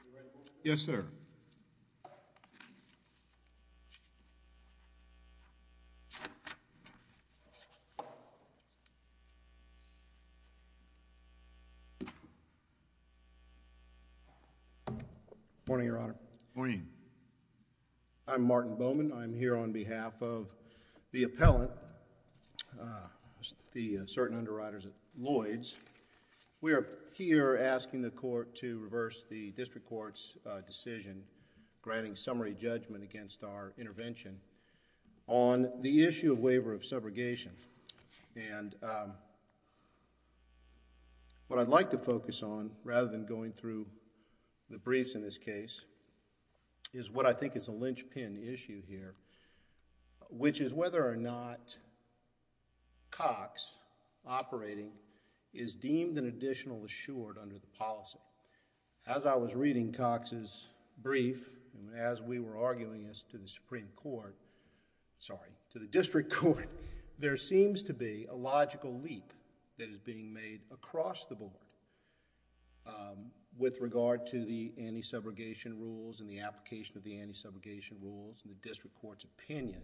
stands. Yes sir. I'm Martin Bowman, I'm here on behalf of the appellant, the certain underwriters at Lloyds. We are here asking the court to reverse the district court's decision, granting summary judgment against our intervention, on the issue of waiver of subrogation. What I'd like to focus on, rather than going through the briefs in this case, is what I think is deemed an additional assured under the policy. As I was reading Cox's brief, and as we were arguing this to the district court, there seems to be a logical leap that is being made across the board with regard to the anti-subrogation rules and the application of the anti-subrogation rules in the district court's opinion.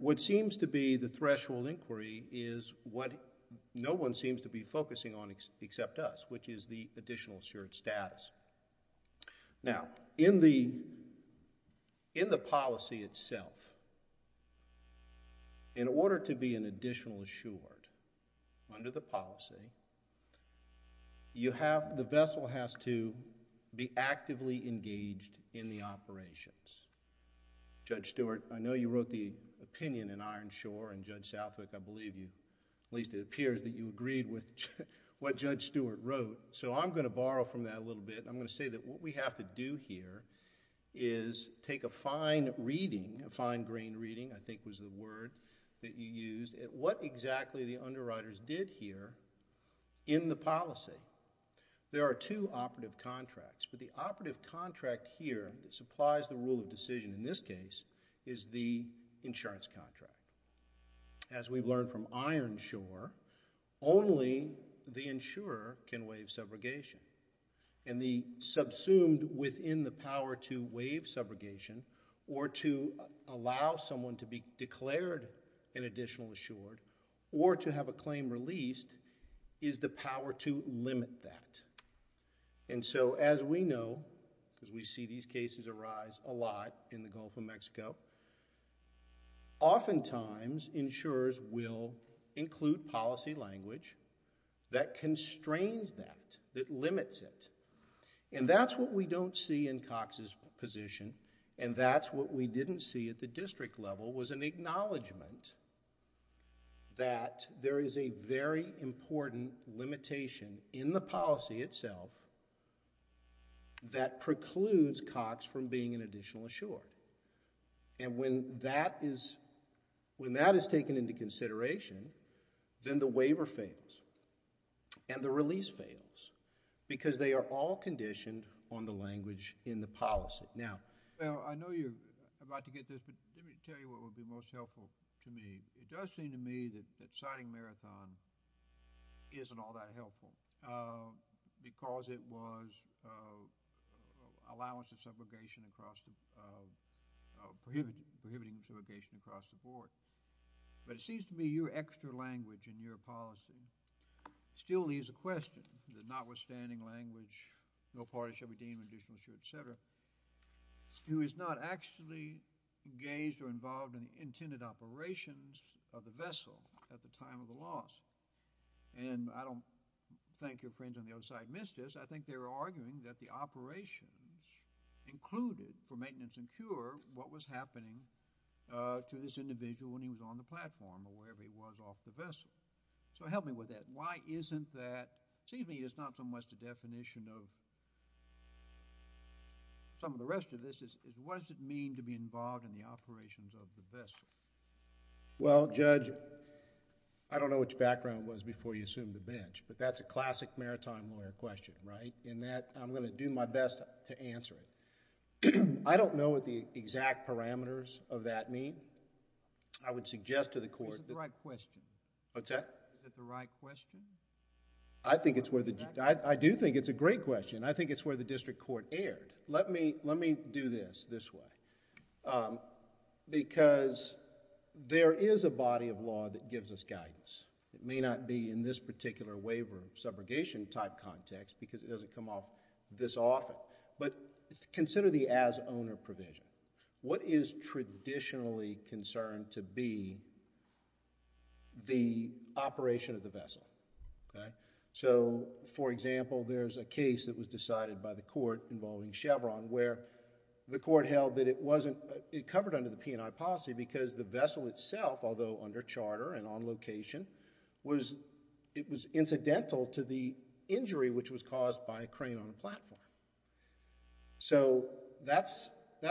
What seems to be the threshold inquiry is what no one seems to be focusing on except us, which is the additional assured status. In the policy itself, in order to be an additional assured under the policy, the vessel has to be actively engaged in the operations. Judge Stewart, I know you wrote the opinion in Ironshore, and Judge Southwick, I believe you... at least it appears that you agreed with what Judge Stewart wrote, so I'm going to borrow from that a little bit, and I'm going to say that what we have to do here is take a fine reading, a fine-grained reading, I think was the word that you used, at what exactly the underwriters did here in the policy. There are two operative contracts, but the operative contract here that supplies the in this case is the insurance contract. As we've learned from Ironshore, only the insurer can waive subrogation. The subsumed within the power to waive subrogation or to allow someone to be declared an additional assured or to have a claim released is the power to limit that. And so as we know, because we see these cases arise a lot in the Gulf of Mexico, oftentimes insurers will include policy language that constrains that, that limits it. And that's what we don't see in Cox's position, and that's what we didn't see at the district level was an acknowledgment that there is a very important limitation in the policy itself that precludes Cox from being an additional assured. And when that is, when that is taken into consideration, then the waiver fails, and the release fails, because they are all conditioned on the language in the policy. Now, I know you're about to get this, but let me tell you what would be most helpful to me. It does seem to me that, that citing Marathon isn't all that helpful, because it was allowance of subrogation across the, prohibiting subrogation across the board. But it seems to me your extra language in your policy still leaves a question, the notwithstanding language, no parties shall be deemed additional assured, et cetera, who is not actually engaged or involved in the intended operations of the vessel at the time of the loss. And I don't think your friends on the other side missed this. I think they were arguing that the operations included, for maintenance and cure, what was happening to this individual when he was on the platform or wherever he was off the vessel. So help me with that. Why isn't that... it seems to me it's not so much the definition of some of the rest of this. What does it mean to be involved in the operations of the vessel? Well, Judge, I don't know what your background was before you assumed the bench, but that's a classic Marathon lawyer question, right? In that, I'm going to do my best to answer it. I don't know what the exact parameters of that mean. I would suggest to the court... Is it the right question? What's that? Is it the right question? I think it's where the... I do think it's a great question. I think it's where the district court erred. Let me do this, this way, because there is a body of law that gives us guidance. It may not be in this particular waiver of subrogation type context because it doesn't come up this often, but consider the as owner provision. What is traditionally concerned to be the operation of the vessel? For example, there's a case that was decided by the court involving Chevron where the court held that it wasn't... It covered under the P&I policy because the vessel itself, although under charter and on location, it was incidental to the injury which was caused by a crane on a platform. That's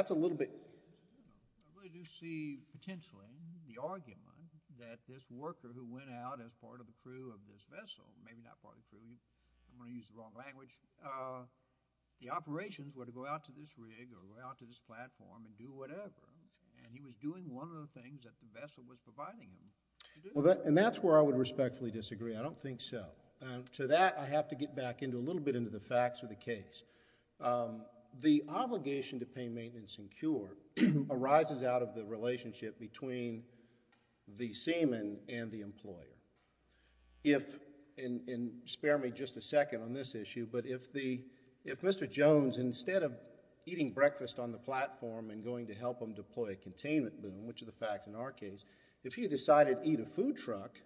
a little bit... I really do see potentially the argument that this worker who went out as part of the crew of this vessel, maybe not part of the crew, I'm going to use the wrong language, the operations were to go out to this rig or go out to this platform and do whatever and he was doing one of the things that the vessel was providing him to do. That's where I would respectfully disagree. I don't think so. To that, I have to get back into a little bit into the facts of the case. The obligation to pay maintenance and cure arises out of the relationship between the seaman and the employer. Spare me just a second on this issue, but if Mr. Jones, instead of eating breakfast on the platform and going to help him deploy a containment boom, which are the facts in our case, if he decided to eat a food truck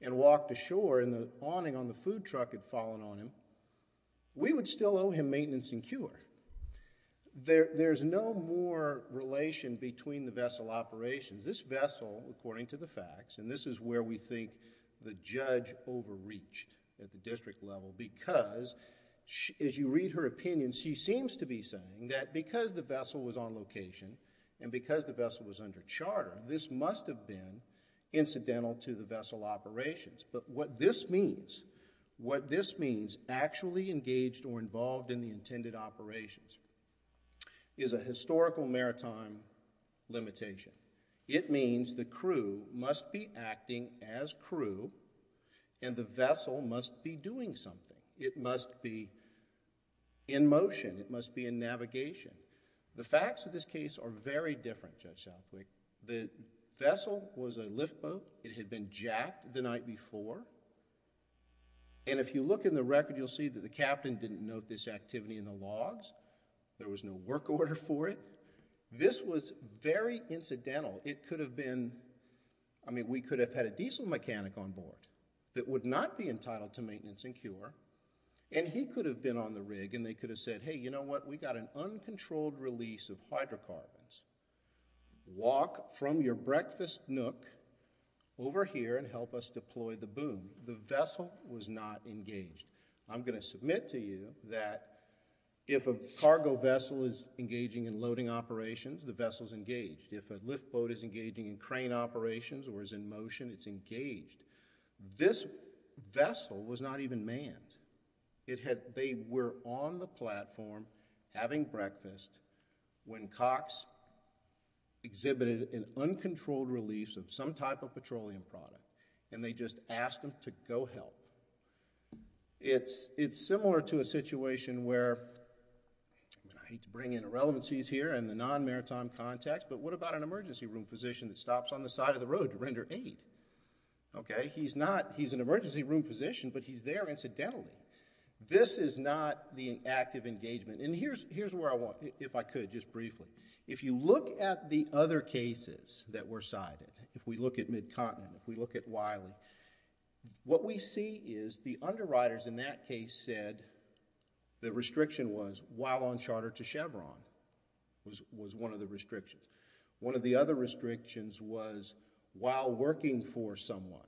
and walked ashore and the awning on the food truck had fallen on him, we would still owe him maintenance and cure. There's no more relation between the vessel operations. This vessel, according to the facts, and this is where we think the judge overreached at the district level because as you read her opinion, she seems to be saying that because the vessel was on location and because the vessel was under charter, this must have been incidental to the vessel operations, but what this means, what this means actually engaged or involved in the intended operations is a historical maritime limitation. It means the crew must be acting as crew and the vessel must be doing something. It must be in motion, it must be in navigation. The facts of this case are very different, Judge Southwick. The vessel was a lift boat, it had been jacked the night before, and if you look in the record you'll see that the captain didn't note this activity in the logs. There was no work order for it. This was very incidental. It could have been... I mean, we could have had a diesel mechanic on board that would not be entitled to maintenance and cure and he could have been on the rig and they could have said, hey, you know what, we got an uncontrolled release of hydrocarbons. Walk from your breakfast nook over here and help us deploy the boom. The vessel was not engaged. I'm going to submit to you that if a cargo vessel is engaging in loading operations, the vessel's engaged. If a lift boat is engaging in crane operations or is in motion, it's engaged. This vessel was not even manned. They were on the platform having breakfast when Cox exhibited an uncontrolled release of some type of petroleum product and they just asked him to go help. It's similar to a situation where... I hate to bring in irrelevancies here in the non-maritime context, but what about an emergency room physician that stops on the side of the He's not... he's an emergency room physician, but he's there incidentally. This is not the active engagement and here's where I want... if I could just briefly. If you look at the other cases that were cited, if we look at Mid-Continent, if we look at Wiley, what we see is the underwriters in that case said the restriction was while on charter to Chevron was one of the restrictions. One of the other restrictions was while working for someone,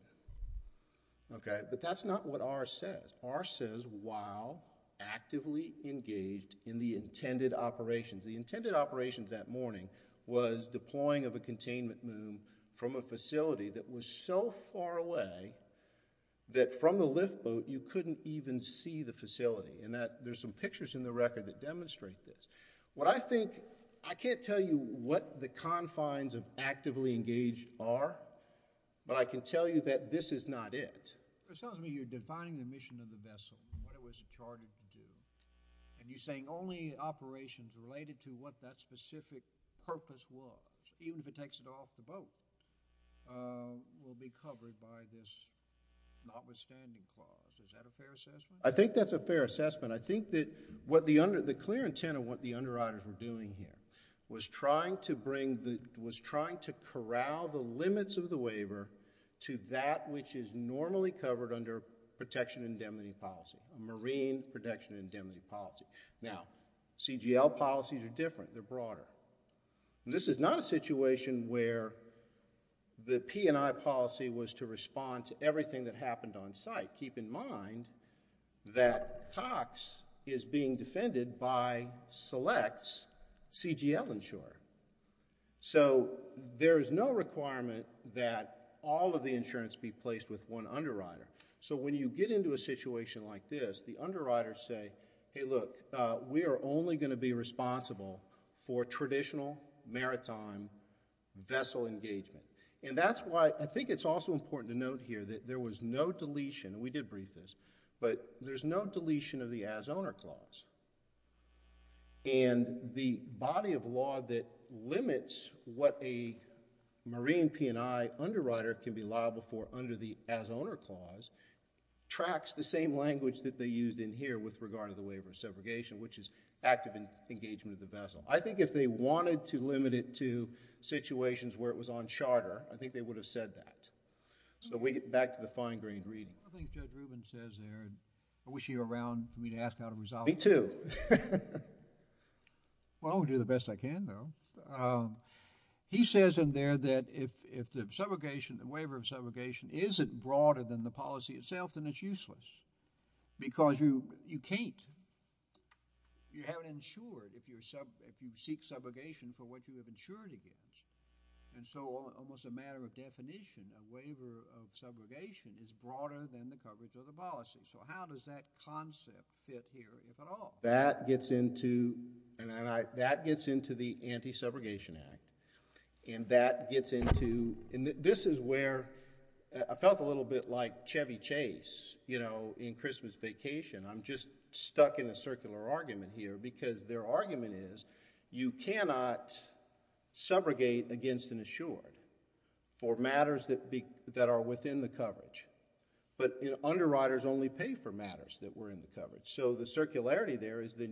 but that's not what R says. R says while actively engaged in the intended operations. The intended operations that morning was deploying of a containment boom from a facility that was so far away that from the lift boat, you couldn't even see the facility. There's some pictures in the record that demonstrate this. What I think... I can't tell you what the confines of actively engaged are, but I can tell you that this is not it. It sounds to me you're defining the mission of the vessel and what it was chartered to do and you're saying only operations related to what that specific purpose was, even if it takes it off the boat, will be covered by this notwithstanding clause. Is that a fair assessment? I think that's a fair assessment. I think that the clear intent of what the underwriters were doing here was trying to corral the limits of the waiver to that which is normally covered under protection indemnity policy, marine protection indemnity policy. Now, CGL policies are different, they're broader. This is not a situation where the P&I policy was to respond to everything that happened on site. Keep in mind that Cox is being defended by Select's CGL insurer. There is no requirement that all of the insurance be placed with one underwriter. When you get into a situation like this, the underwriters say, hey look, we are only going to be responsible for traditional maritime vessel engagement. That's why I think it's also important to note here that there was no deletion, and we did brief this, but there's no deletion of the as owner clause. The body of law that limits what a marine P&I underwriter can be liable for under the as owner clause tracks the same language that they used in here with regard to the waiver of subrogation, which is active engagement of the vessel. I think if they wanted to limit it to situations where it was on charter, I think they would have said that. Back to the fine grained reading. One of the things Judge Rubin says there, and I wish he were around for me to ask how to resolve it. Me too. Well, I'm going to do the best I can though. He says in there that if the subrogation, the waiver of subrogation isn't broader than the policy itself, then it's useless, because you can't, you haven't insured if you're subject If you're subject to subrogation, you can't insure. If you're subject to subrogation, you can't insure. You can't insure if you seek subrogation for what you have insured against. So, almost a matter of definition a waiver of subrogation is broader than the coverage of the policy. So, how does that concept fit here, if at all? That gets into the Anti-Subrogation Act. This is where, I felt a little bit like Chevy Chase, in Christmas Vacation. I'm just stuck in a circular argument here because their argument is you cannot subrogate against an insured for matters that are within the coverage, but underwriters only pay for matters that were in the coverage. So, the circularity there is that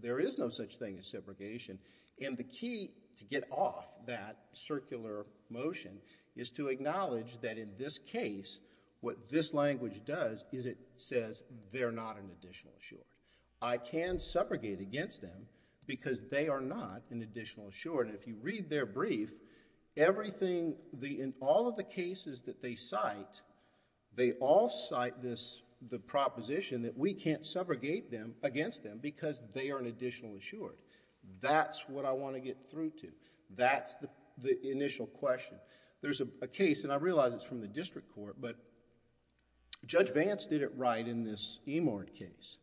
there is no such thing as subrogation, and the key to get off that circular motion is to acknowledge that in this case, what this language does is it says they're not an additional insured. I can subrogate against them because they are not an additional insured. If you read their brief, in all of the cases that they cite, they all cite the proposition that we can't subrogate against them because they are an additional insured. That's what I want to get through to. That's the initial question. There's a case, and I realize it's from the district court, but Judge Vance did it right in this Emard case.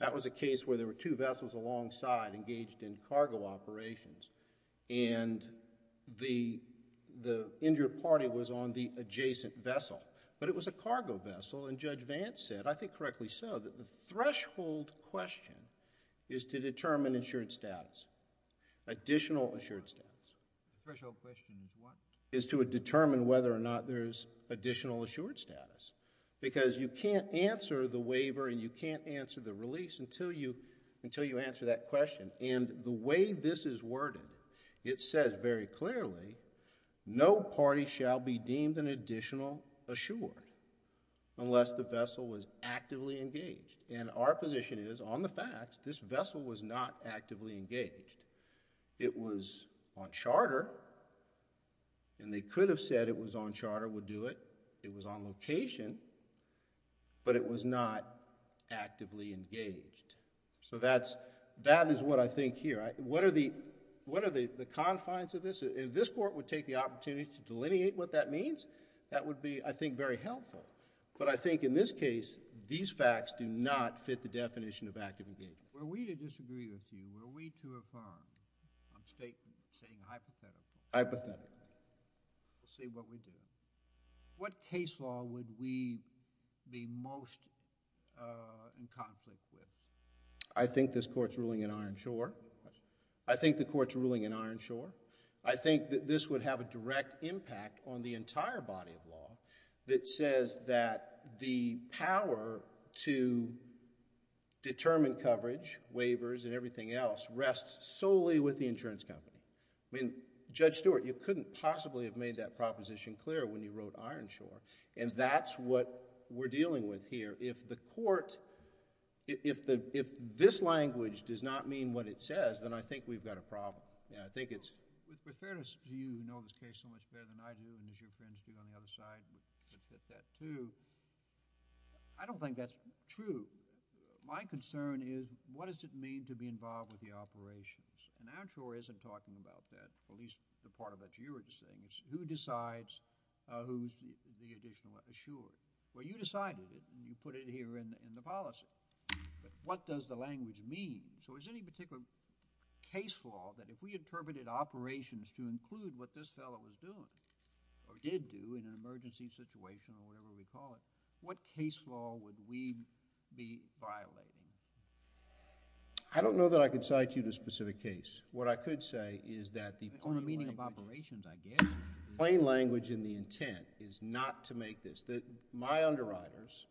That was a case where there were two vessels alongside engaged in cargo operations, and the injured party was on the adjacent vessel, but it was a cargo vessel, and Judge Vance said, I think correctly so, that the threshold question is to determine insured status, additional insured status. The threshold question is what? Is to determine whether or not there's additional insured status, because you can't answer the waiver, and you can't answer the release until you answer that question, and the way this is worded, it says very clearly, no party shall be deemed an additional insured unless the vessel was actively engaged, and our position is, on the facts, this vessel was not actively engaged. It was on charter, and they could have said it was on charter, would do it. It was on location, but it was not actively engaged, so that is what I think here. What are the confines of this? If this court would take the opportunity to delineate what that means, that would be, I think, very helpful, but I think in this case, these facts do not fit the definition of active engagement. Were we to disagree with you, were we to affirm, I'm stating, saying hypothetically, Hypothetically. We'll see what we do. What case law would we be most in conflict with? I think this court's ruling in Ironshore. I think the court's ruling in Ironshore. I think that this would have a direct impact on the entire body of law that says that the power to determine coverage, waivers, and everything else rests solely with the insurance company. I mean, Judge Stewart, you couldn't possibly have made that proposition clear when you wrote Ironshore, and that's what we're dealing with here. If the court... if this language does not mean what it says, then I think we've got a problem. I think it's... With fairness to you, you know this case so much better than I do, and as your friends do on the other side, we could fit that, too. I don't think that's true. My concern is, what does it mean to be involved with the operations? And Ironshore isn't talking about that, at least the part of it you were just saying. It's who decides who's the additional insurer. Well, you decided it, and you put it here in the policy, but what does the language mean? So is there any particular case law that if we interpreted operations to include what this fellow was doing, or did do in an emergency situation or whatever we call it, what case law would we be violating? I don't know that I could cite you to a specific case. What I could say is that the... On the meaning of operations, I guess... Plain language in the intent is not to make this. My underwriters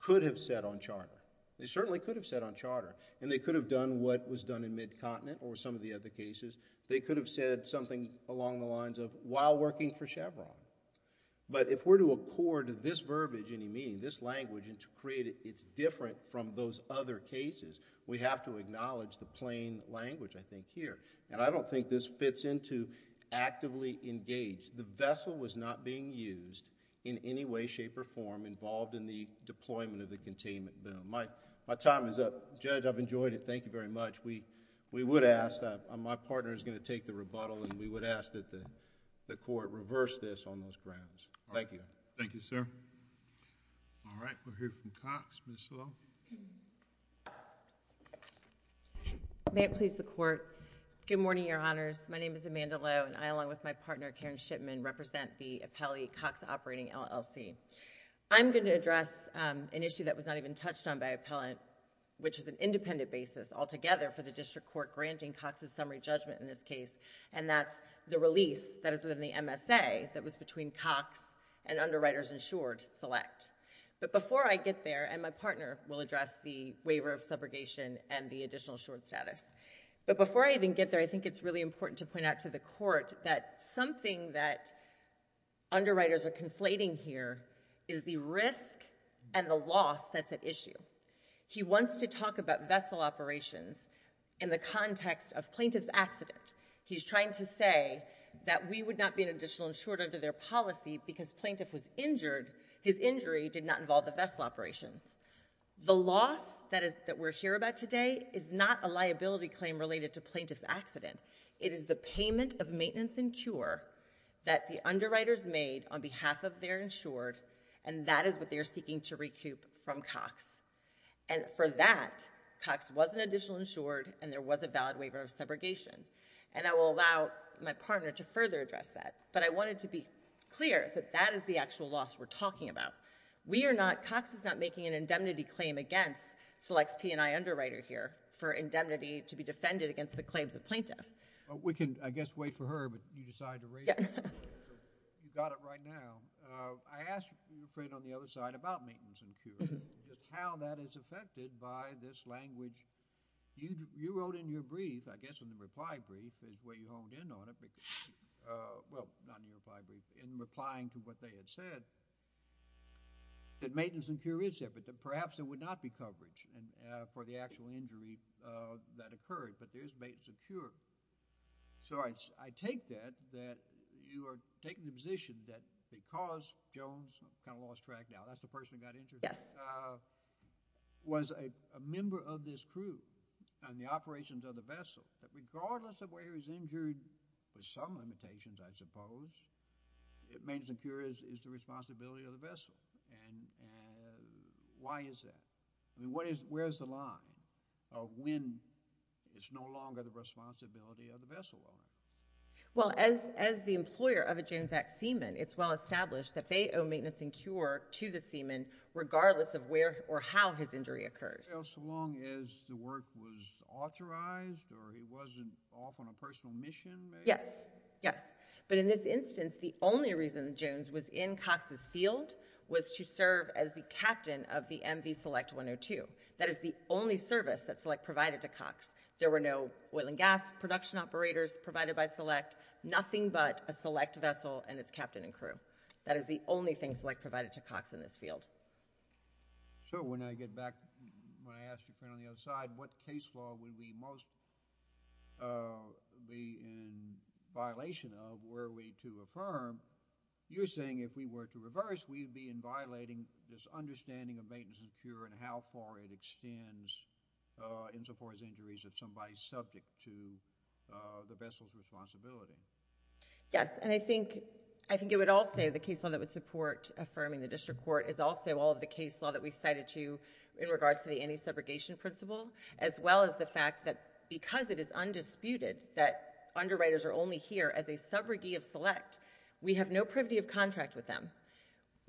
could have said on charter, they certainly could have said on charter, and they could have done what was done in Mid-Continent or some of the other cases. They could have said something along the lines of, while working for Chevron. But if we're to accord this verbiage, any meaning, this language, and to create it, it's different from those other cases. We have to acknowledge the plain language, I think, here. I don't think this fits into actively engaged. The vessel was not being used in any way, shape, or form involved in the deployment of the containment bill. My time is up. Judge, I've enjoyed it. Thank you very much. We would ask, my partner is going to take the rebuttal, and we would ask that the court reverse this on those grounds. Thank you. Thank you, sir. All right. We'll hear from Cox. Ms. Lowe. May it please the Court. Good morning, Your Honors. My name is Amanda Lowe, and I, along with my partner, Karen Shipman, represent the Appellee Cox Operating LLC. I'm going to address an issue that was not even touched on by an appellant, which is an independent basis altogether for the district court granting Cox's summary judgment in this case, and that's the release that is within the MSA that was between Cox and Underwriters Insured Select. But before I get there, and my partner will address the waiver of subrogation and the additional short status, but before I even get there, I think it's really important to point out to the court that something that underwriters are conflating here is the risk and the loss that's at issue. He wants to talk about vessel operations in the context of plaintiff's accident. He's trying to say that we would not be an additional insured under their policy because plaintiff was injured, his injury did not involve the vessel operations. The loss that we're hearing about today is not a liability claim related to plaintiff's accident. It is the payment of maintenance and cure that the underwriters made on behalf of their insured, and that is what they are seeking to recoup from Cox. And for that, Cox was an additional insured and there was a valid waiver of subrogation. And I will allow my partner to further address that, but I wanted to be clear that that is the actual loss we're talking about. We are not, Cox is not making an indemnity claim against Select's P&I underwriter here for indemnity to be defended against the claims of plaintiff. Well, we can, I guess, wait for her, but you decide to raise it. Yeah. You got it right now. I asked your friend on the other side about maintenance and cure, just how that is affected by this language. You wrote in your brief, I guess in the reply brief is where you honed in on it, because, well, not in your reply brief, in replying to what they had said, that maintenance and cure is there, but that perhaps there would not be coverage for the actual injury. So I take that, that you are taking the position that because Jones, kind of lost track now, that's the person who got injured, was a member of this crew and the operations of the vessel, that regardless of where he was injured, with some limitations, I suppose, maintenance and cure is the responsibility of the vessel. And why is that? I mean, where's the line of when it's no longer the responsibility of the vessel owner? Well, as the employer of a Jones Act seaman, it's well established that they owe maintenance and cure to the seaman, regardless of where or how his injury occurs. Well, so long as the work was authorized or he wasn't off on a personal mission, maybe? Yes. Yes. But in this instance, the only reason Jones was in Cox's field was to serve as the captain of the MV Select 102. That is the only service that Select provided to Cox. There were no oil and gas production operators provided by Select, nothing but a Select vessel and its captain and crew. That is the only thing Select provided to Cox in this field. So when I get back, when I ask your friend on the other side, what case law would we most be in violation of were we to affirm, you're saying if we were to reverse, we'd be in violating this understanding of maintenance and cure and how far it extends insofar as injuries if somebody's subject to the vessel's responsibility. Yes. And I think it would also, the case law that would support affirming the district court is also all of the case law that we cited to you in regards to the anti-segregation principle, as well as the fact that because it is undisputed that underwriters are only here as a subrogate of Select, we have no privity of contract with them.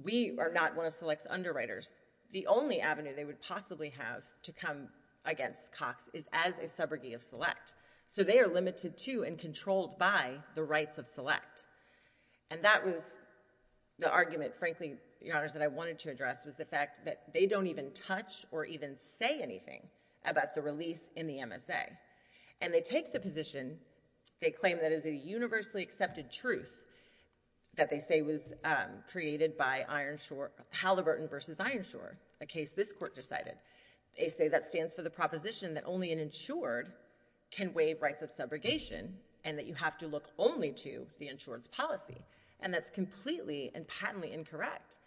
We are not one of Select's underwriters. The only avenue they would possibly have to come against Cox is as a subrogate of Select. So they are limited to and controlled by the rights of Select. And that was the argument, frankly, Your Honors, that I wanted to address was the fact that they don't even touch or even say anything about the release in the MSA. And they take the position, they claim that it is a universally accepted truth that they say was created by Halliburton versus Ironshore, a case this court decided. They say that stands for the proposition that only an insured can waive rights of subrogation and that you have to look only to the insured's policy. And that's completely and patently incorrect.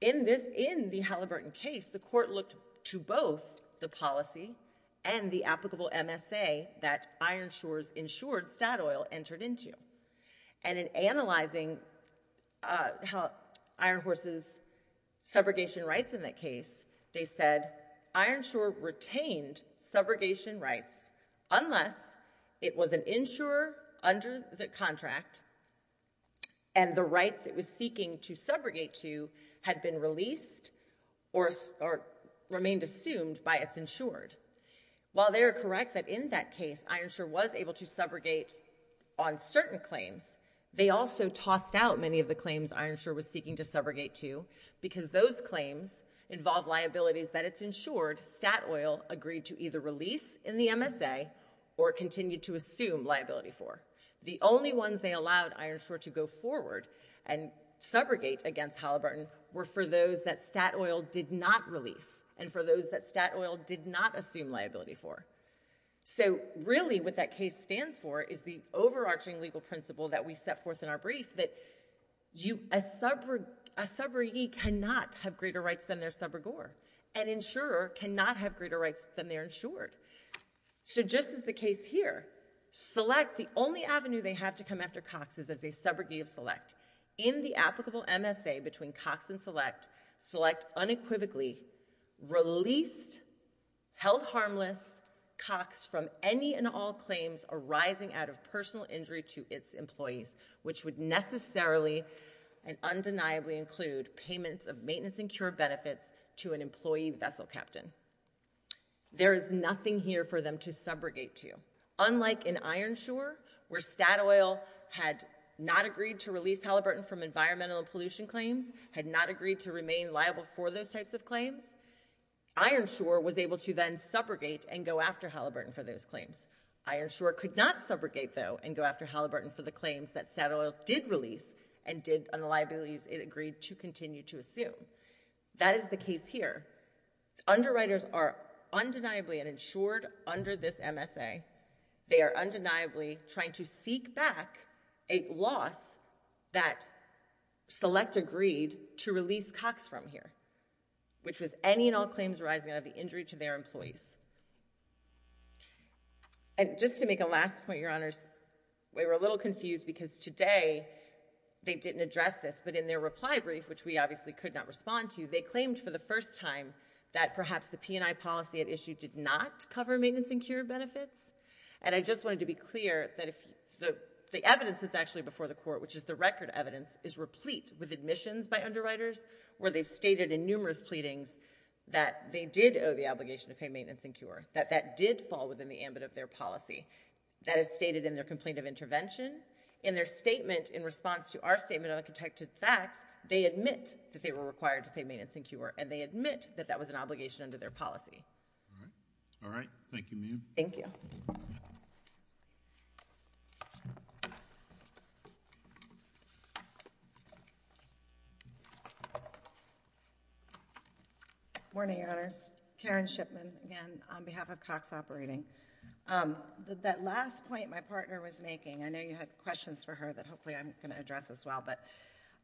In the Halliburton case, the court looked to both the policy and the applicable MSA that Ironshore's insured, Statoil, entered into. And in analyzing Ironhorse's subrogation rights in that case, they said, Ironshore retained subrogation rights unless it was an insurer under the contract and the rights it was seeking to subrogate to had been released or remained assumed by its insured. While they are correct that in that case, Ironshore was able to subrogate on certain claims, they also tossed out many of the claims Ironshore was seeking to subrogate to because those claims involve liabilities that its insured, Statoil, agreed to either release in the MSA or continue to assume liability for. The only ones they allowed Ironshore to go forward and subrogate against Halliburton were for those that Statoil did not release and for those that Statoil did not assume liability for. So really what that case stands for is the overarching legal principle that we set forth in our brief that a subrogee cannot have greater rights than their subrogor. An insurer cannot have greater rights than their insured. So just as the case here, Select, the only avenue they have to come after Cox is as a subrogee of Select. In the applicable MSA between Cox and Select, Select unequivocally released, held harmless, Cox from any and all claims arising out of personal injury to its employees, which would necessarily and undeniably include payments of maintenance and cure benefits to an employee vessel captain. There is nothing here for them to subrogate to. Unlike in Ironshore, where Statoil had not agreed to release Halliburton from environmental pollution claims, had not agreed to remain liable for those types of claims, Ironshore was able to then subrogate and go after Halliburton for those claims. Ironshore could not subrogate, though, and go after Halliburton for the claims that Statoil did release and did on the liabilities it agreed to continue to assume. That is the case here. Underwriters are undeniably, and ensured under this MSA, they are undeniably trying to seek back a loss that Select agreed to release Cox from here, which was any and all claims arising out of the injury to their employees. And just to make a last point, Your Honors, we were a little confused, because today they didn't address this, but in their reply brief, which we obviously could not respond to, they claimed for the first time that perhaps the P&I policy at issue did not cover maintenance and cure benefits. And I just wanted to be clear that the evidence that's actually before the Court, which is the record evidence, is replete with admissions by underwriters where they've stated in numerous pleadings that they did owe the obligation to pay maintenance and cure, that that did fall within the ambit of their policy. That is stated in their complaint of intervention. In their statement in response to our statement on the contected facts, they admit that they were required to pay maintenance and cure, and they admit that that was an obligation under their policy. All right. Thank you, Mia. Thank you. Morning, Your Honors. Karen Shipman, again, on behalf of Cox Operating. That last point my partner was making, I know you had questions for her that hopefully I'm going to address as well, but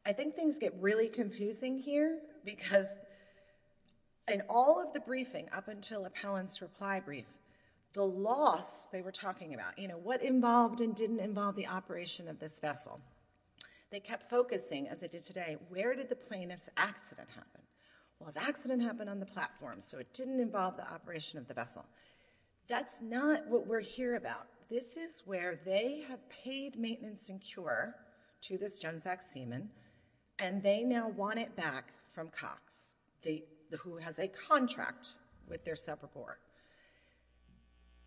I think things get really confusing here, because in all of the briefing up until Appellant's reply brief, the loss they were talking about, you know, what involved and didn't involve the operation of this vessel, they kept focusing, as they did today, where did the plaintiff's accident happen? Well, his accident happened on the platform, so it didn't involve the operation of the vessel. That's not what we're here about. This is where they have paid maintenance and cure to this GenZac seaman, and they now want it back from Cox, who has a contract with their subreport.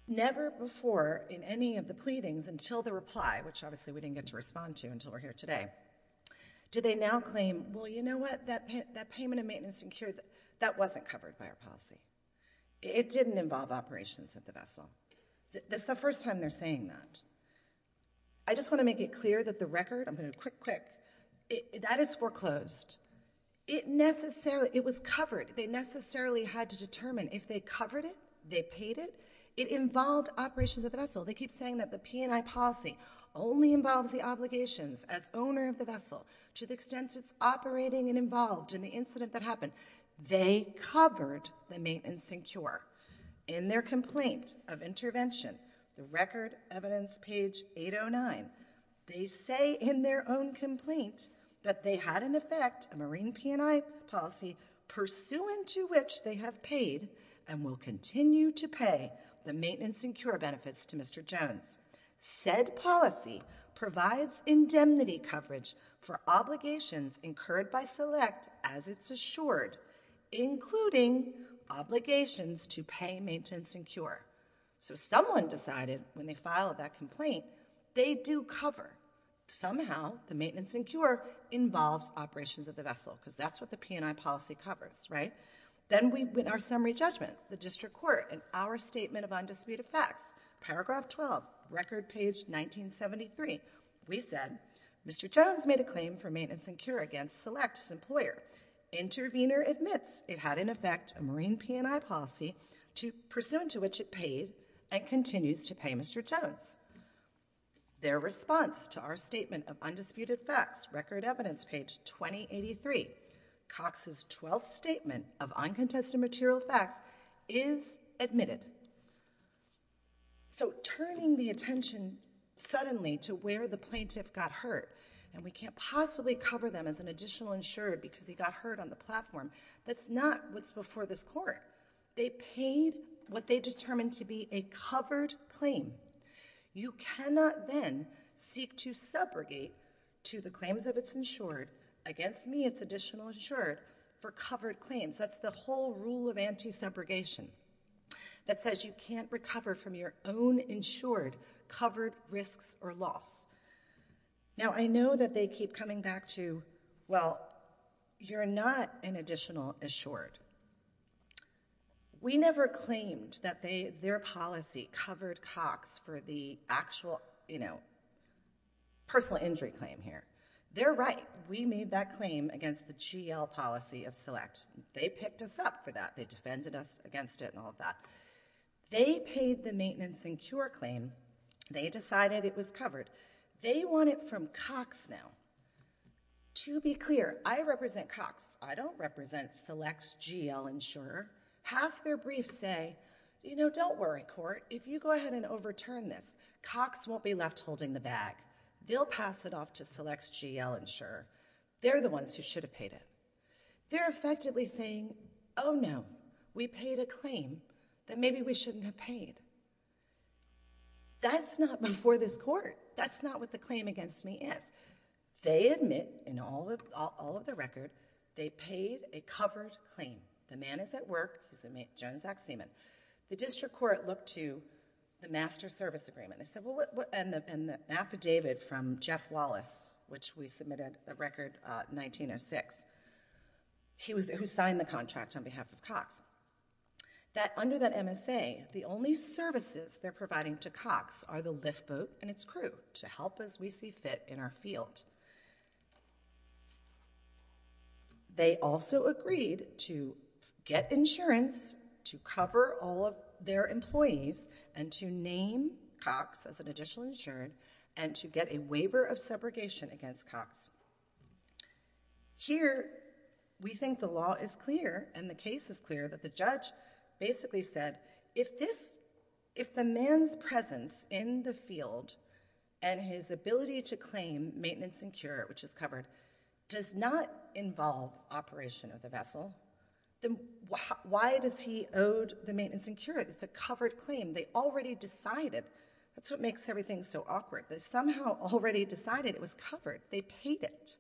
Never before in any of the pleadings until the reply, which obviously we didn't get to respond to until we're here today, do they now claim, well, you know what, that payment of maintenance and cure, that wasn't covered by our policy. It didn't involve operations of the vessel. That's the first time they're saying that. I just want to make it clear that the record, I'm going to go quick, quick, that is foreclosed. It was covered. They necessarily had to determine if they covered it, they paid it, it involved operations of the vessel. They keep saying that the P&I policy only involves the obligations as owner of the vessel to the extent it's operating and involved in the incident that happened. They covered the maintenance and cure. In their complaint of intervention, the record evidence page 809, they say in their own complaint that they had in effect a marine P&I policy pursuant to which they have paid and will continue to pay the maintenance and cure benefits to Mr. Jones. Said policy provides indemnity coverage for obligations incurred by select as it's assured, including obligations to pay maintenance and cure. So someone decided when they filed that complaint, they do cover. Somehow the maintenance and cure involves operations of the vessel because that's what the P&I policy covers. Then we win our summary judgment. The district court in our statement of undisputed facts, paragraph 12, record page 1973, we said, Mr. Jones made a claim for maintenance and cure against select as employer. Intervener admits it had in effect a marine P&I policy pursuant to which it paid and continues to pay Mr. Jones. Their response to our statement of undisputed facts, record evidence page 2083, Cox's 12th statement of uncontested material facts is admitted. So turning the attention suddenly to where the plaintiff got hurt and we can't possibly cover them as an additional insured because he got hurt on the platform, that's not what's before this court. They paid what they determined to be a covered claim. You cannot then seek to segregate to the claims of its insured against me as additional insured for covered claims. That's the whole rule of anti-segregation. That says you can't recover from your own insured covered risks or loss. Now, I know that they keep coming back to, well, you're not an additional insured. We never claimed that their policy covered Cox for the actual, you know, personal injury claim here. They're right. We made that claim against the GL policy of select. They picked us up for that. They defended us against it and all of that. They paid the maintenance and cure claim. They decided it was covered. They want it from Cox now. To be clear, I represent Cox. I don't represent select's GL insurer. Half their briefs say, you know, don't worry, court. If you go ahead and overturn this, Cox won't be left holding the bag. They'll pass it off to select's GL insurer. They're the ones who should have paid it. They're effectively saying, oh, no, we paid a claim that maybe we shouldn't have paid. That's not before this court. That's not what the claim against me is. They admit, in all of the record, they paid a covered claim. The man is at work. He's the Jones-Ox Seaman. The district court looked to the master service agreement. They said, well, and the affidavit from Jeff Wallace, which we submitted a record 1906, who signed the contract on behalf of Cox, that under that MSA, the only services they're providing to Cox are the lift boat and its crew to help as we see fit in our field. They also agreed to get insurance to cover all of their employees and to name Cox as an additional insured and to get a waiver of segregation against Cox. Here, we think the law is clear and the case is clear that the judge basically said, if the man's presence in the field and his ability to claim maintenance and cure, which is covered, does not involve operation of the vessel, then why does he owe the maintenance and cure? It's a covered claim. They already decided. That's what makes everything so awkward. They somehow already decided it was covered. They paid it.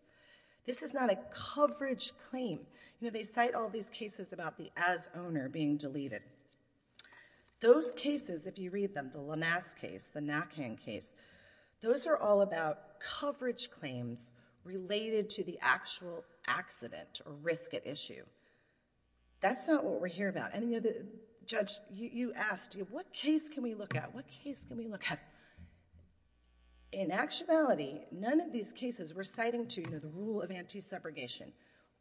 This is not a coverage claim. You know, they cite all these cases about the as-owner being deleted. Those cases, if you read them, the Lamass case, the Nakang case, those are all about coverage claims related to the actual accident or risk at issue. That's not what we're here about. And, you know, Judge, you asked, what case can we look at? What case can we look at? In actuality, none of these cases we're citing to the rule of anti-segregation,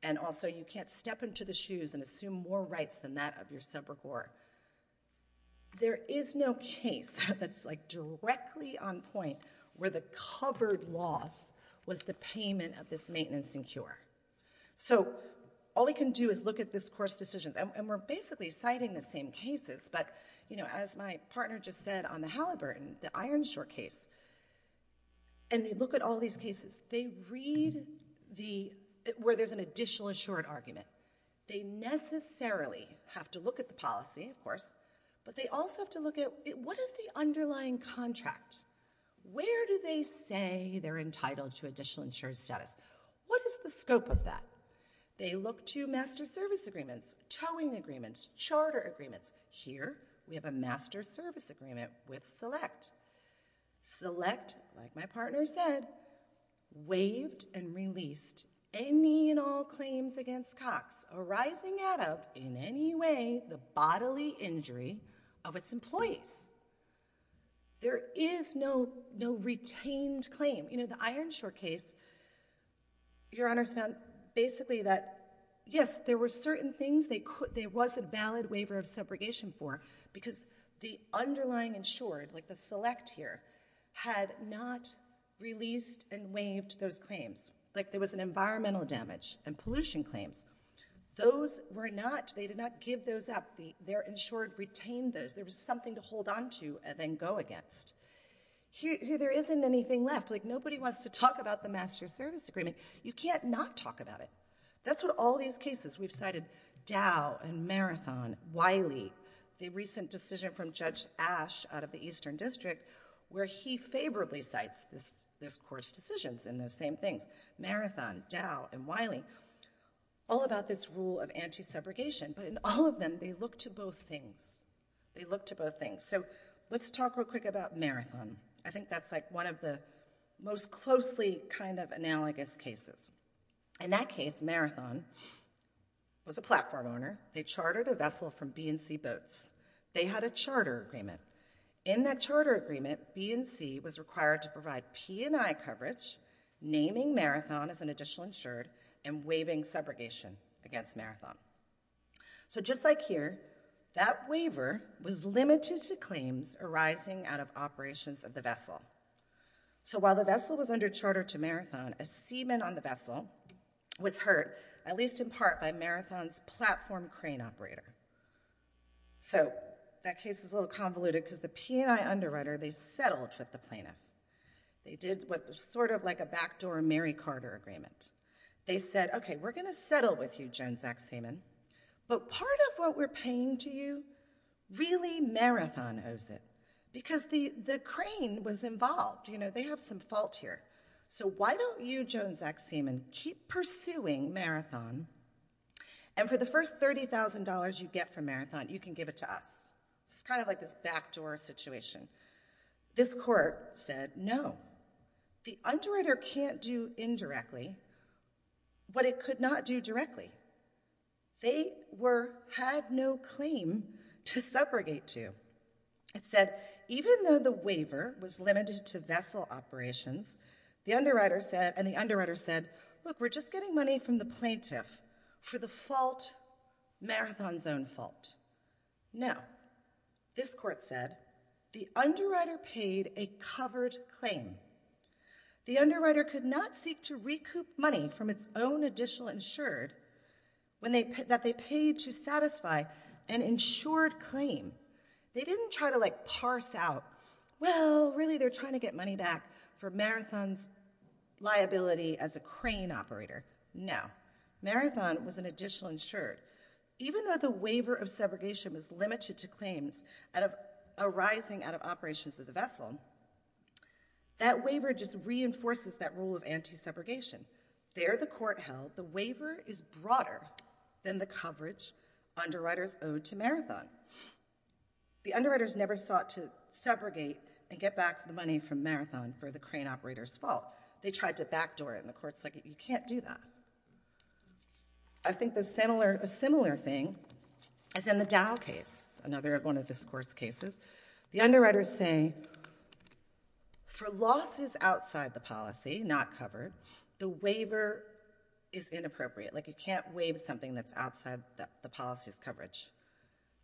and also you can't step into the shoes and assume more rights than that of your subreport. There is no case that's, like, directly on point where the covered loss was the payment of this maintenance and cure. So all we can do is look at this course decisions, and we're basically citing the same cases, but, you know, as my partner just said on the Halliburton, the Ironshore case, and you look at all these cases, they read where there's an additional assured argument. They necessarily have to look at the policy, of course, but they also have to look at what is the underlying contract? Where do they say they're entitled to additional insured status? What is the scope of that? They look to master service agreements, towing agreements, charter agreements. Here we have a master service agreement with Select. Select, like my partner said, waived and released any and all claims against Cox arising out of, in any way, the bodily injury of its employees. There is no retained claim. You know, the Ironshore case, Your Honor's found basically that, yes, there were certain things there was a valid waiver of segregation for because the underlying insured, like the Select here, had not released and waived those claims. Like, there was an environmental damage and pollution claims. Those were not, they did not give those up. Their insured retained those. There was something to hold on to and then go against. Here there isn't anything left. Like, nobody wants to talk about the master service agreement. You can't not talk about it. That's what all these cases, we've cited Dow and Marathon, Wiley, the recent decision from Judge Ash out of the Eastern District, where he favorably cites this Court's decisions in those same things. Marathon, Dow and Wiley, all about this rule of anti-segregation. But in all of them, they look to both things. They look to both things. So let's talk real quick about Marathon. I think that's like one of the most closely kind of analogous cases. In that case, Marathon was a platform owner. They chartered a vessel from B&C Boats. They had a charter agreement. In that charter agreement, B&C was required to provide P&I coverage, naming Marathon as an additional insured, and waiving segregation against Marathon. So just like here, that waiver was limited to claims arising out of operations of the vessel. So while the vessel was under charter to Marathon, a seaman on the vessel was hurt, at least in part, by Marathon's platform crane operator. So that case is a little convoluted, because the P&I underwriter, they settled with the plaintiff. They did sort of like a backdoor Mary Carter agreement. They said, okay, we're going to settle with you, Joan Zach Seaman, but part of what we're paying to you, really Marathon owes it, because the crane was involved. They have some fault here. So why don't you, Joan Zach Seaman, keep pursuing Marathon, and for the first $30,000 you get from Marathon, you can give it to us? It's kind of like this backdoor situation. This court said no. The underwriter can't do indirectly what it could not do directly. They had no claim to subrogate to. It said even though the waiver was limited to vessel operations, and the underwriter said, look, we're just getting money from the plaintiff for the fault, Marathon's own fault. No. This court said the underwriter paid a covered claim. The underwriter could not seek to recoup money from its own additional insured that they paid to satisfy an insured claim. They didn't try to, like, parse out, well, really, they're trying to get money back for Marathon's liability as a crane operator. No. Marathon was an additional insured. Even though the waiver of subrogation was limited to claims arising out of operations of the vessel, that waiver just reinforces that rule of anti-subrogation. There, the court held, the waiver is broader than the coverage underwriters owed to Marathon. The underwriters never sought to subrogate and get back the money from Marathon for the crane operator's fault. They tried to backdoor it, and the court said, you can't do that. I think a similar thing is in the Dow case, another one of this court's cases. The underwriters say for losses outside the policy, not covered, the waiver is inappropriate. Like, you can't waive something that's outside the policy's coverage.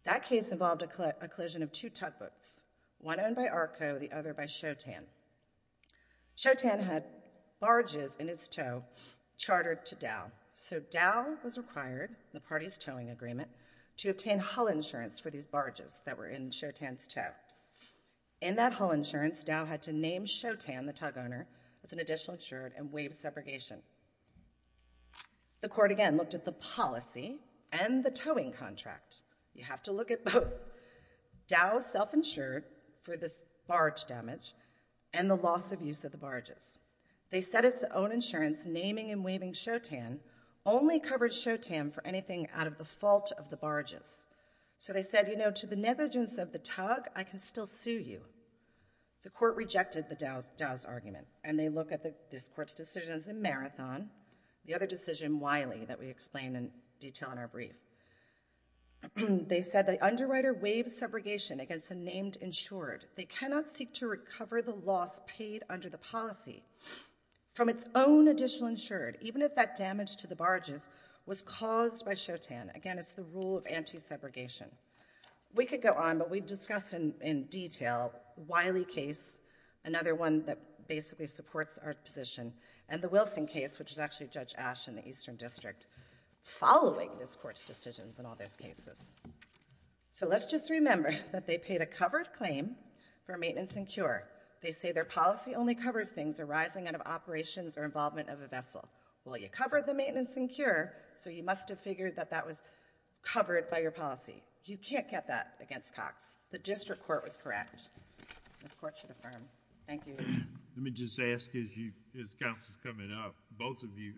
That case involved a collision of two tugboats, one owned by ARCO, the other by Shotan. Shotan had barges in his tow chartered to Dow. So Dow was required, the party's towing agreement, to obtain hull insurance for these barges that were in Shotan's tow. In that hull insurance, Dow had to name Shotan, the tug owner, as an additional insured and waive separation. The court again looked at the policy and the towing contract. You have to look at both. Dow self-insured for the barge damage and the loss of use of the barges. They said its own insurance, naming and waiving Shotan, only covered Shotan for anything out of the fault of the barges. So they said, you know, to the negligence of the tug, I can still sue you. The court rejected the Dow's argument, and they look at this court's decisions in Marathon, the other decision, Wiley, that we explain in detail in our brief. They said the underwriter waived segregation against a named insured. They cannot seek to recover the loss paid under the policy from its own additional insured, even if that damage to the barges was caused by Shotan. Again, it's the rule of anti-segregation. We could go on, but we discussed in detail Wiley case, another one that basically supports our position, and the Wilson case, which is actually Judge Ash in the Eastern District, following this court's decisions in all those cases. So let's just remember that they paid a covered claim for maintenance and cure. They say their policy only covers things arising out of operations or involvement of a vessel. Well, you covered the maintenance and cure, so you must have figured that that was covered by your policy. You can't get that against Cox. The district court was correct. This court should affirm. Thank you. Let me just ask, as counsel's coming up, both of you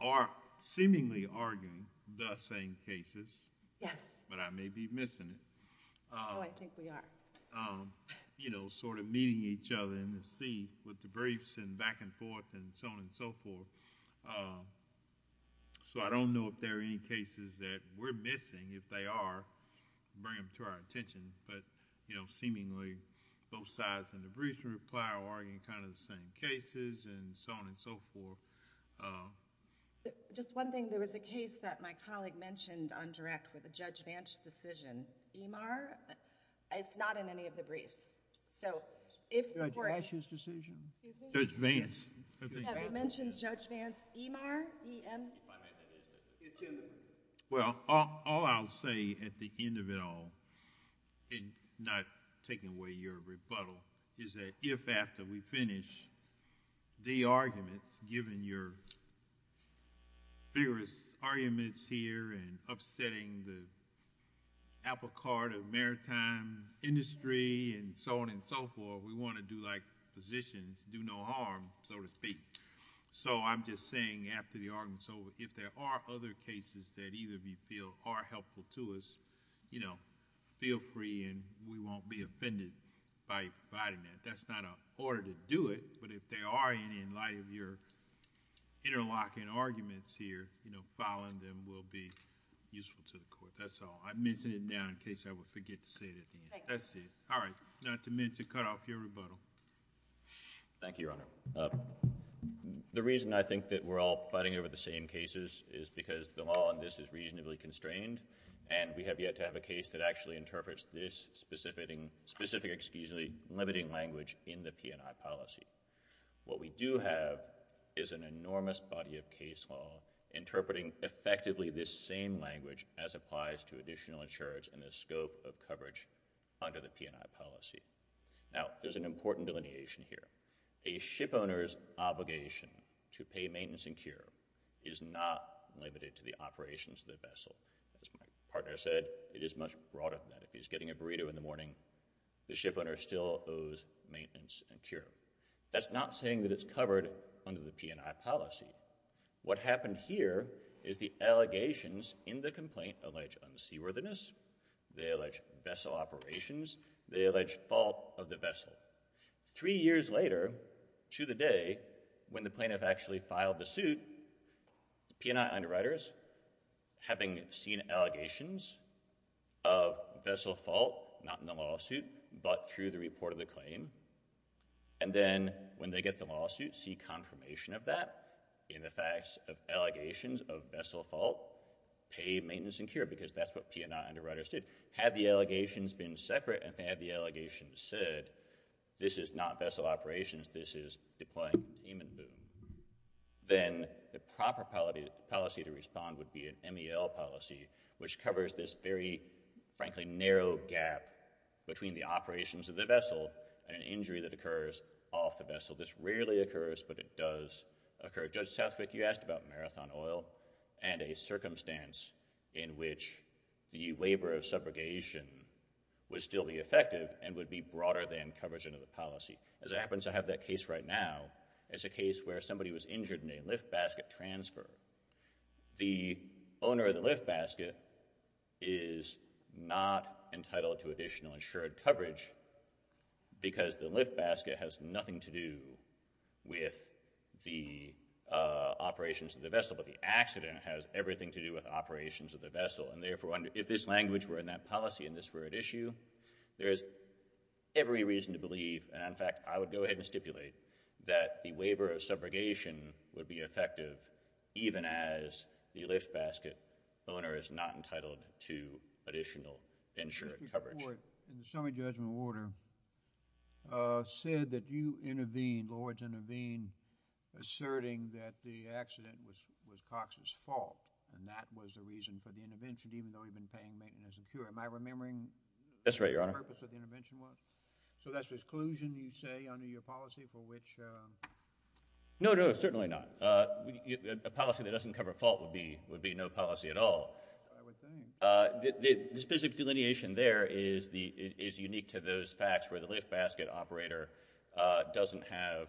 are seemingly arguing the same cases. Yes. But I may be missing it. Oh, I think we are. Meeting each other in the seat with the briefs and back and forth and so on and so forth. So I don't know if there are any cases that we're missing. If they are, bring them to our attention. But, you know, seemingly both sides in the briefs are arguing kind of the same cases and so on and so forth. Just one thing. There was a case that my colleague mentioned on direct with a Judge Vance decision. Emar? It's not in any of the briefs. Judge Vance's decision? Judge Vance. You haven't mentioned Judge Vance. Emar? Well, all I'll say at the end of it all, and not taking away your rebuttal, is that if after we finish the arguments, given your vigorous arguments here and upsetting the apple cart of maritime industry and so on and so forth, we want to do like physicians, do no harm, so to speak. So I'm just saying after the argument's over, if there are other cases that either of you feel are helpful to us, you know, feel free and we won't be offended by providing that. That's not an order to do it, but if there are any in light of your interlocking arguments here, you know, following them will be useful to the court. That's all. I'm missing it now in case I would forget to say it at the end. That's it. All right. Not to mention cut off your rebuttal. Thank you, Your Honor. The reason I think that we're all fighting over the same cases is because the law on this is reasonably constrained and we have yet to have a case that actually interprets this specific, excuse me, limiting language in the P&I policy. What we do have is an enormous body of case law interpreting effectively this same language as applies to additional insurance in the scope of coverage under the P&I policy. Now, there's an important delineation here. A shipowner's obligation to pay maintenance and cure is not limited to the operations of the vessel. As my partner said, it is much broader than that. If he's getting a burrito in the morning, the shipowner still owes maintenance and cure. That's not saying that it's covered under the P&I policy. What happened here is the allegations in the complaint allege unseaworthiness, they allege vessel operations, they allege fault of the vessel. Three years later to the day when the plaintiff actually filed the suit, P&I underwriters, having seen allegations of vessel fault, not in the lawsuit, but through the report of the claim, and then when they get the lawsuit, see confirmation of that in the facts of allegations of vessel fault, pay maintenance and cure, because that's what P&I underwriters did. Had the allegations been separate, and had the allegations said, this is not vessel operations, this is deploying demon boom, then the proper policy to respond would be an MEL policy, which covers this very, frankly, narrow gap between the operations of the vessel and an injury that occurs off the vessel. This rarely occurs, but it does occur. Judge Southwick, you asked about marathon oil and a circumstance in which the waiver of subrogation would still be effective and would be broader than coverage under the policy. As it happens, I have that case right now. It's a case where somebody was injured in a lift basket transfer. The owner of the lift basket is not entitled to additional insured coverage because the lift basket has nothing to do with the operations of the vessel, but the accident has everything to do with operations of the vessel, and therefore, if this language were in that policy and this were at issue, there is every reason to believe, and in fact, I would go ahead and stipulate, that the waiver of subrogation would be effective even as the lift basket owner is not entitled to additional insured coverage. Mr. Ford, in the summary judgment order, you said that you intervened, Lord's intervened, asserting that the accident was Cox's fault, and that was the reason for the intervention, even though he'd been paying maintenance and cure. Am I remembering... That's right, Your Honor. ...what the purpose of the intervention was? So that's exclusion, you say, under your policy, for which... No, no, certainly not. A policy that doesn't cover a fault would be no policy at all. I would think. The specific delineation there is unique to those facts where the lift basket operator doesn't have...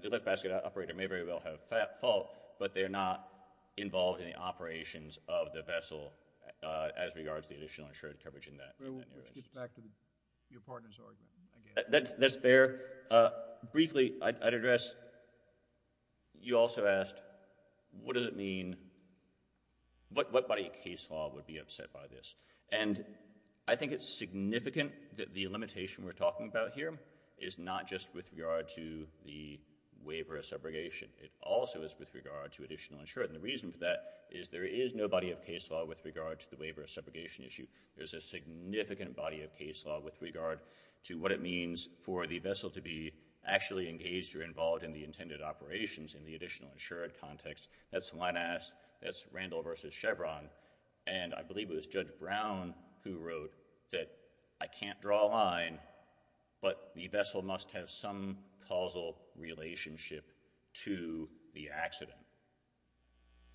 The lift basket operator may very well have a fault, but they're not involved in the operations of the vessel as regards to the additional insured coverage in that area. Which gets back to your partner's argument. That's fair. Briefly, I'd address... You also asked, what does it mean... What body of case law would be upset by this? And I think it's significant that the limitation we're talking about here is not just with regard to the waiver of subrogation. It also is with regard to additional insured. And the reason for that is there is no body of case law with regard to the waiver of subrogation issue. There's a significant body of case law with regard to what it means for the vessel to be actually engaged or involved in the intended operations in the additional insured context. That's when I asked... That's Randall v. Chevron, and I believe it was Judge Brown who wrote that I can't draw a line, but the vessel must have some causal relationship to the accident.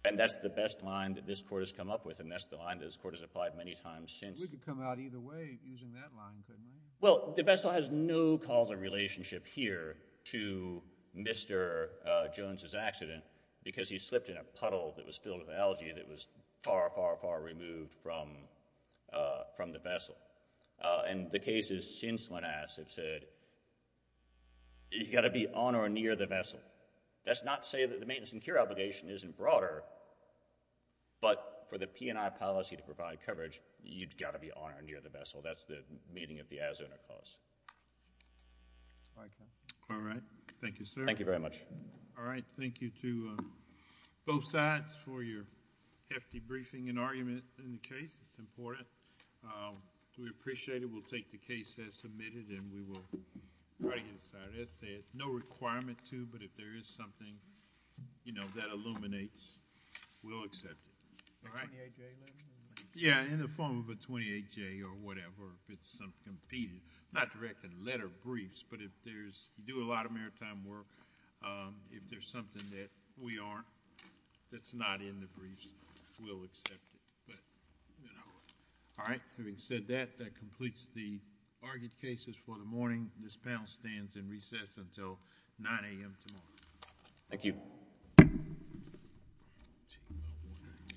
And that's the best line that this Court has come up with, and that's the line this Court has applied many times since. We could come out either way using that line, couldn't we? Well, the vessel has no causal relationship here to Mr. Jones's accident because he slipped in a puddle that was filled with algae that was far, far, far removed from the vessel. And the case is since Linasset said, you've got to be on or near the vessel. That's not to say that the maintenance and cure obligation isn't broader, but for the P&I policy to provide coverage, you've got to be on or near the vessel. That's the meaning of the as-owner clause. All right. Thank you, sir. Thank you very much. All right. Thank you to both sides for your hefty briefing and argument in the case. It's important. We appreciate it. We'll take the case as submitted, and we will try to get it decided. As I said, no requirement to, but if there is something, you know, that illuminates, we'll accept it. All right? A 28-J letter? Yeah, in the form of a 28-J or whatever, Not directly letter briefs, but if there's... You do a lot of maritime work. If there's something that we aren't, that's not in the briefs, we'll accept it. All right. Having said that, that completes the argued cases for the morning. This panel stands in recess until 9 a.m. tomorrow. Thank you.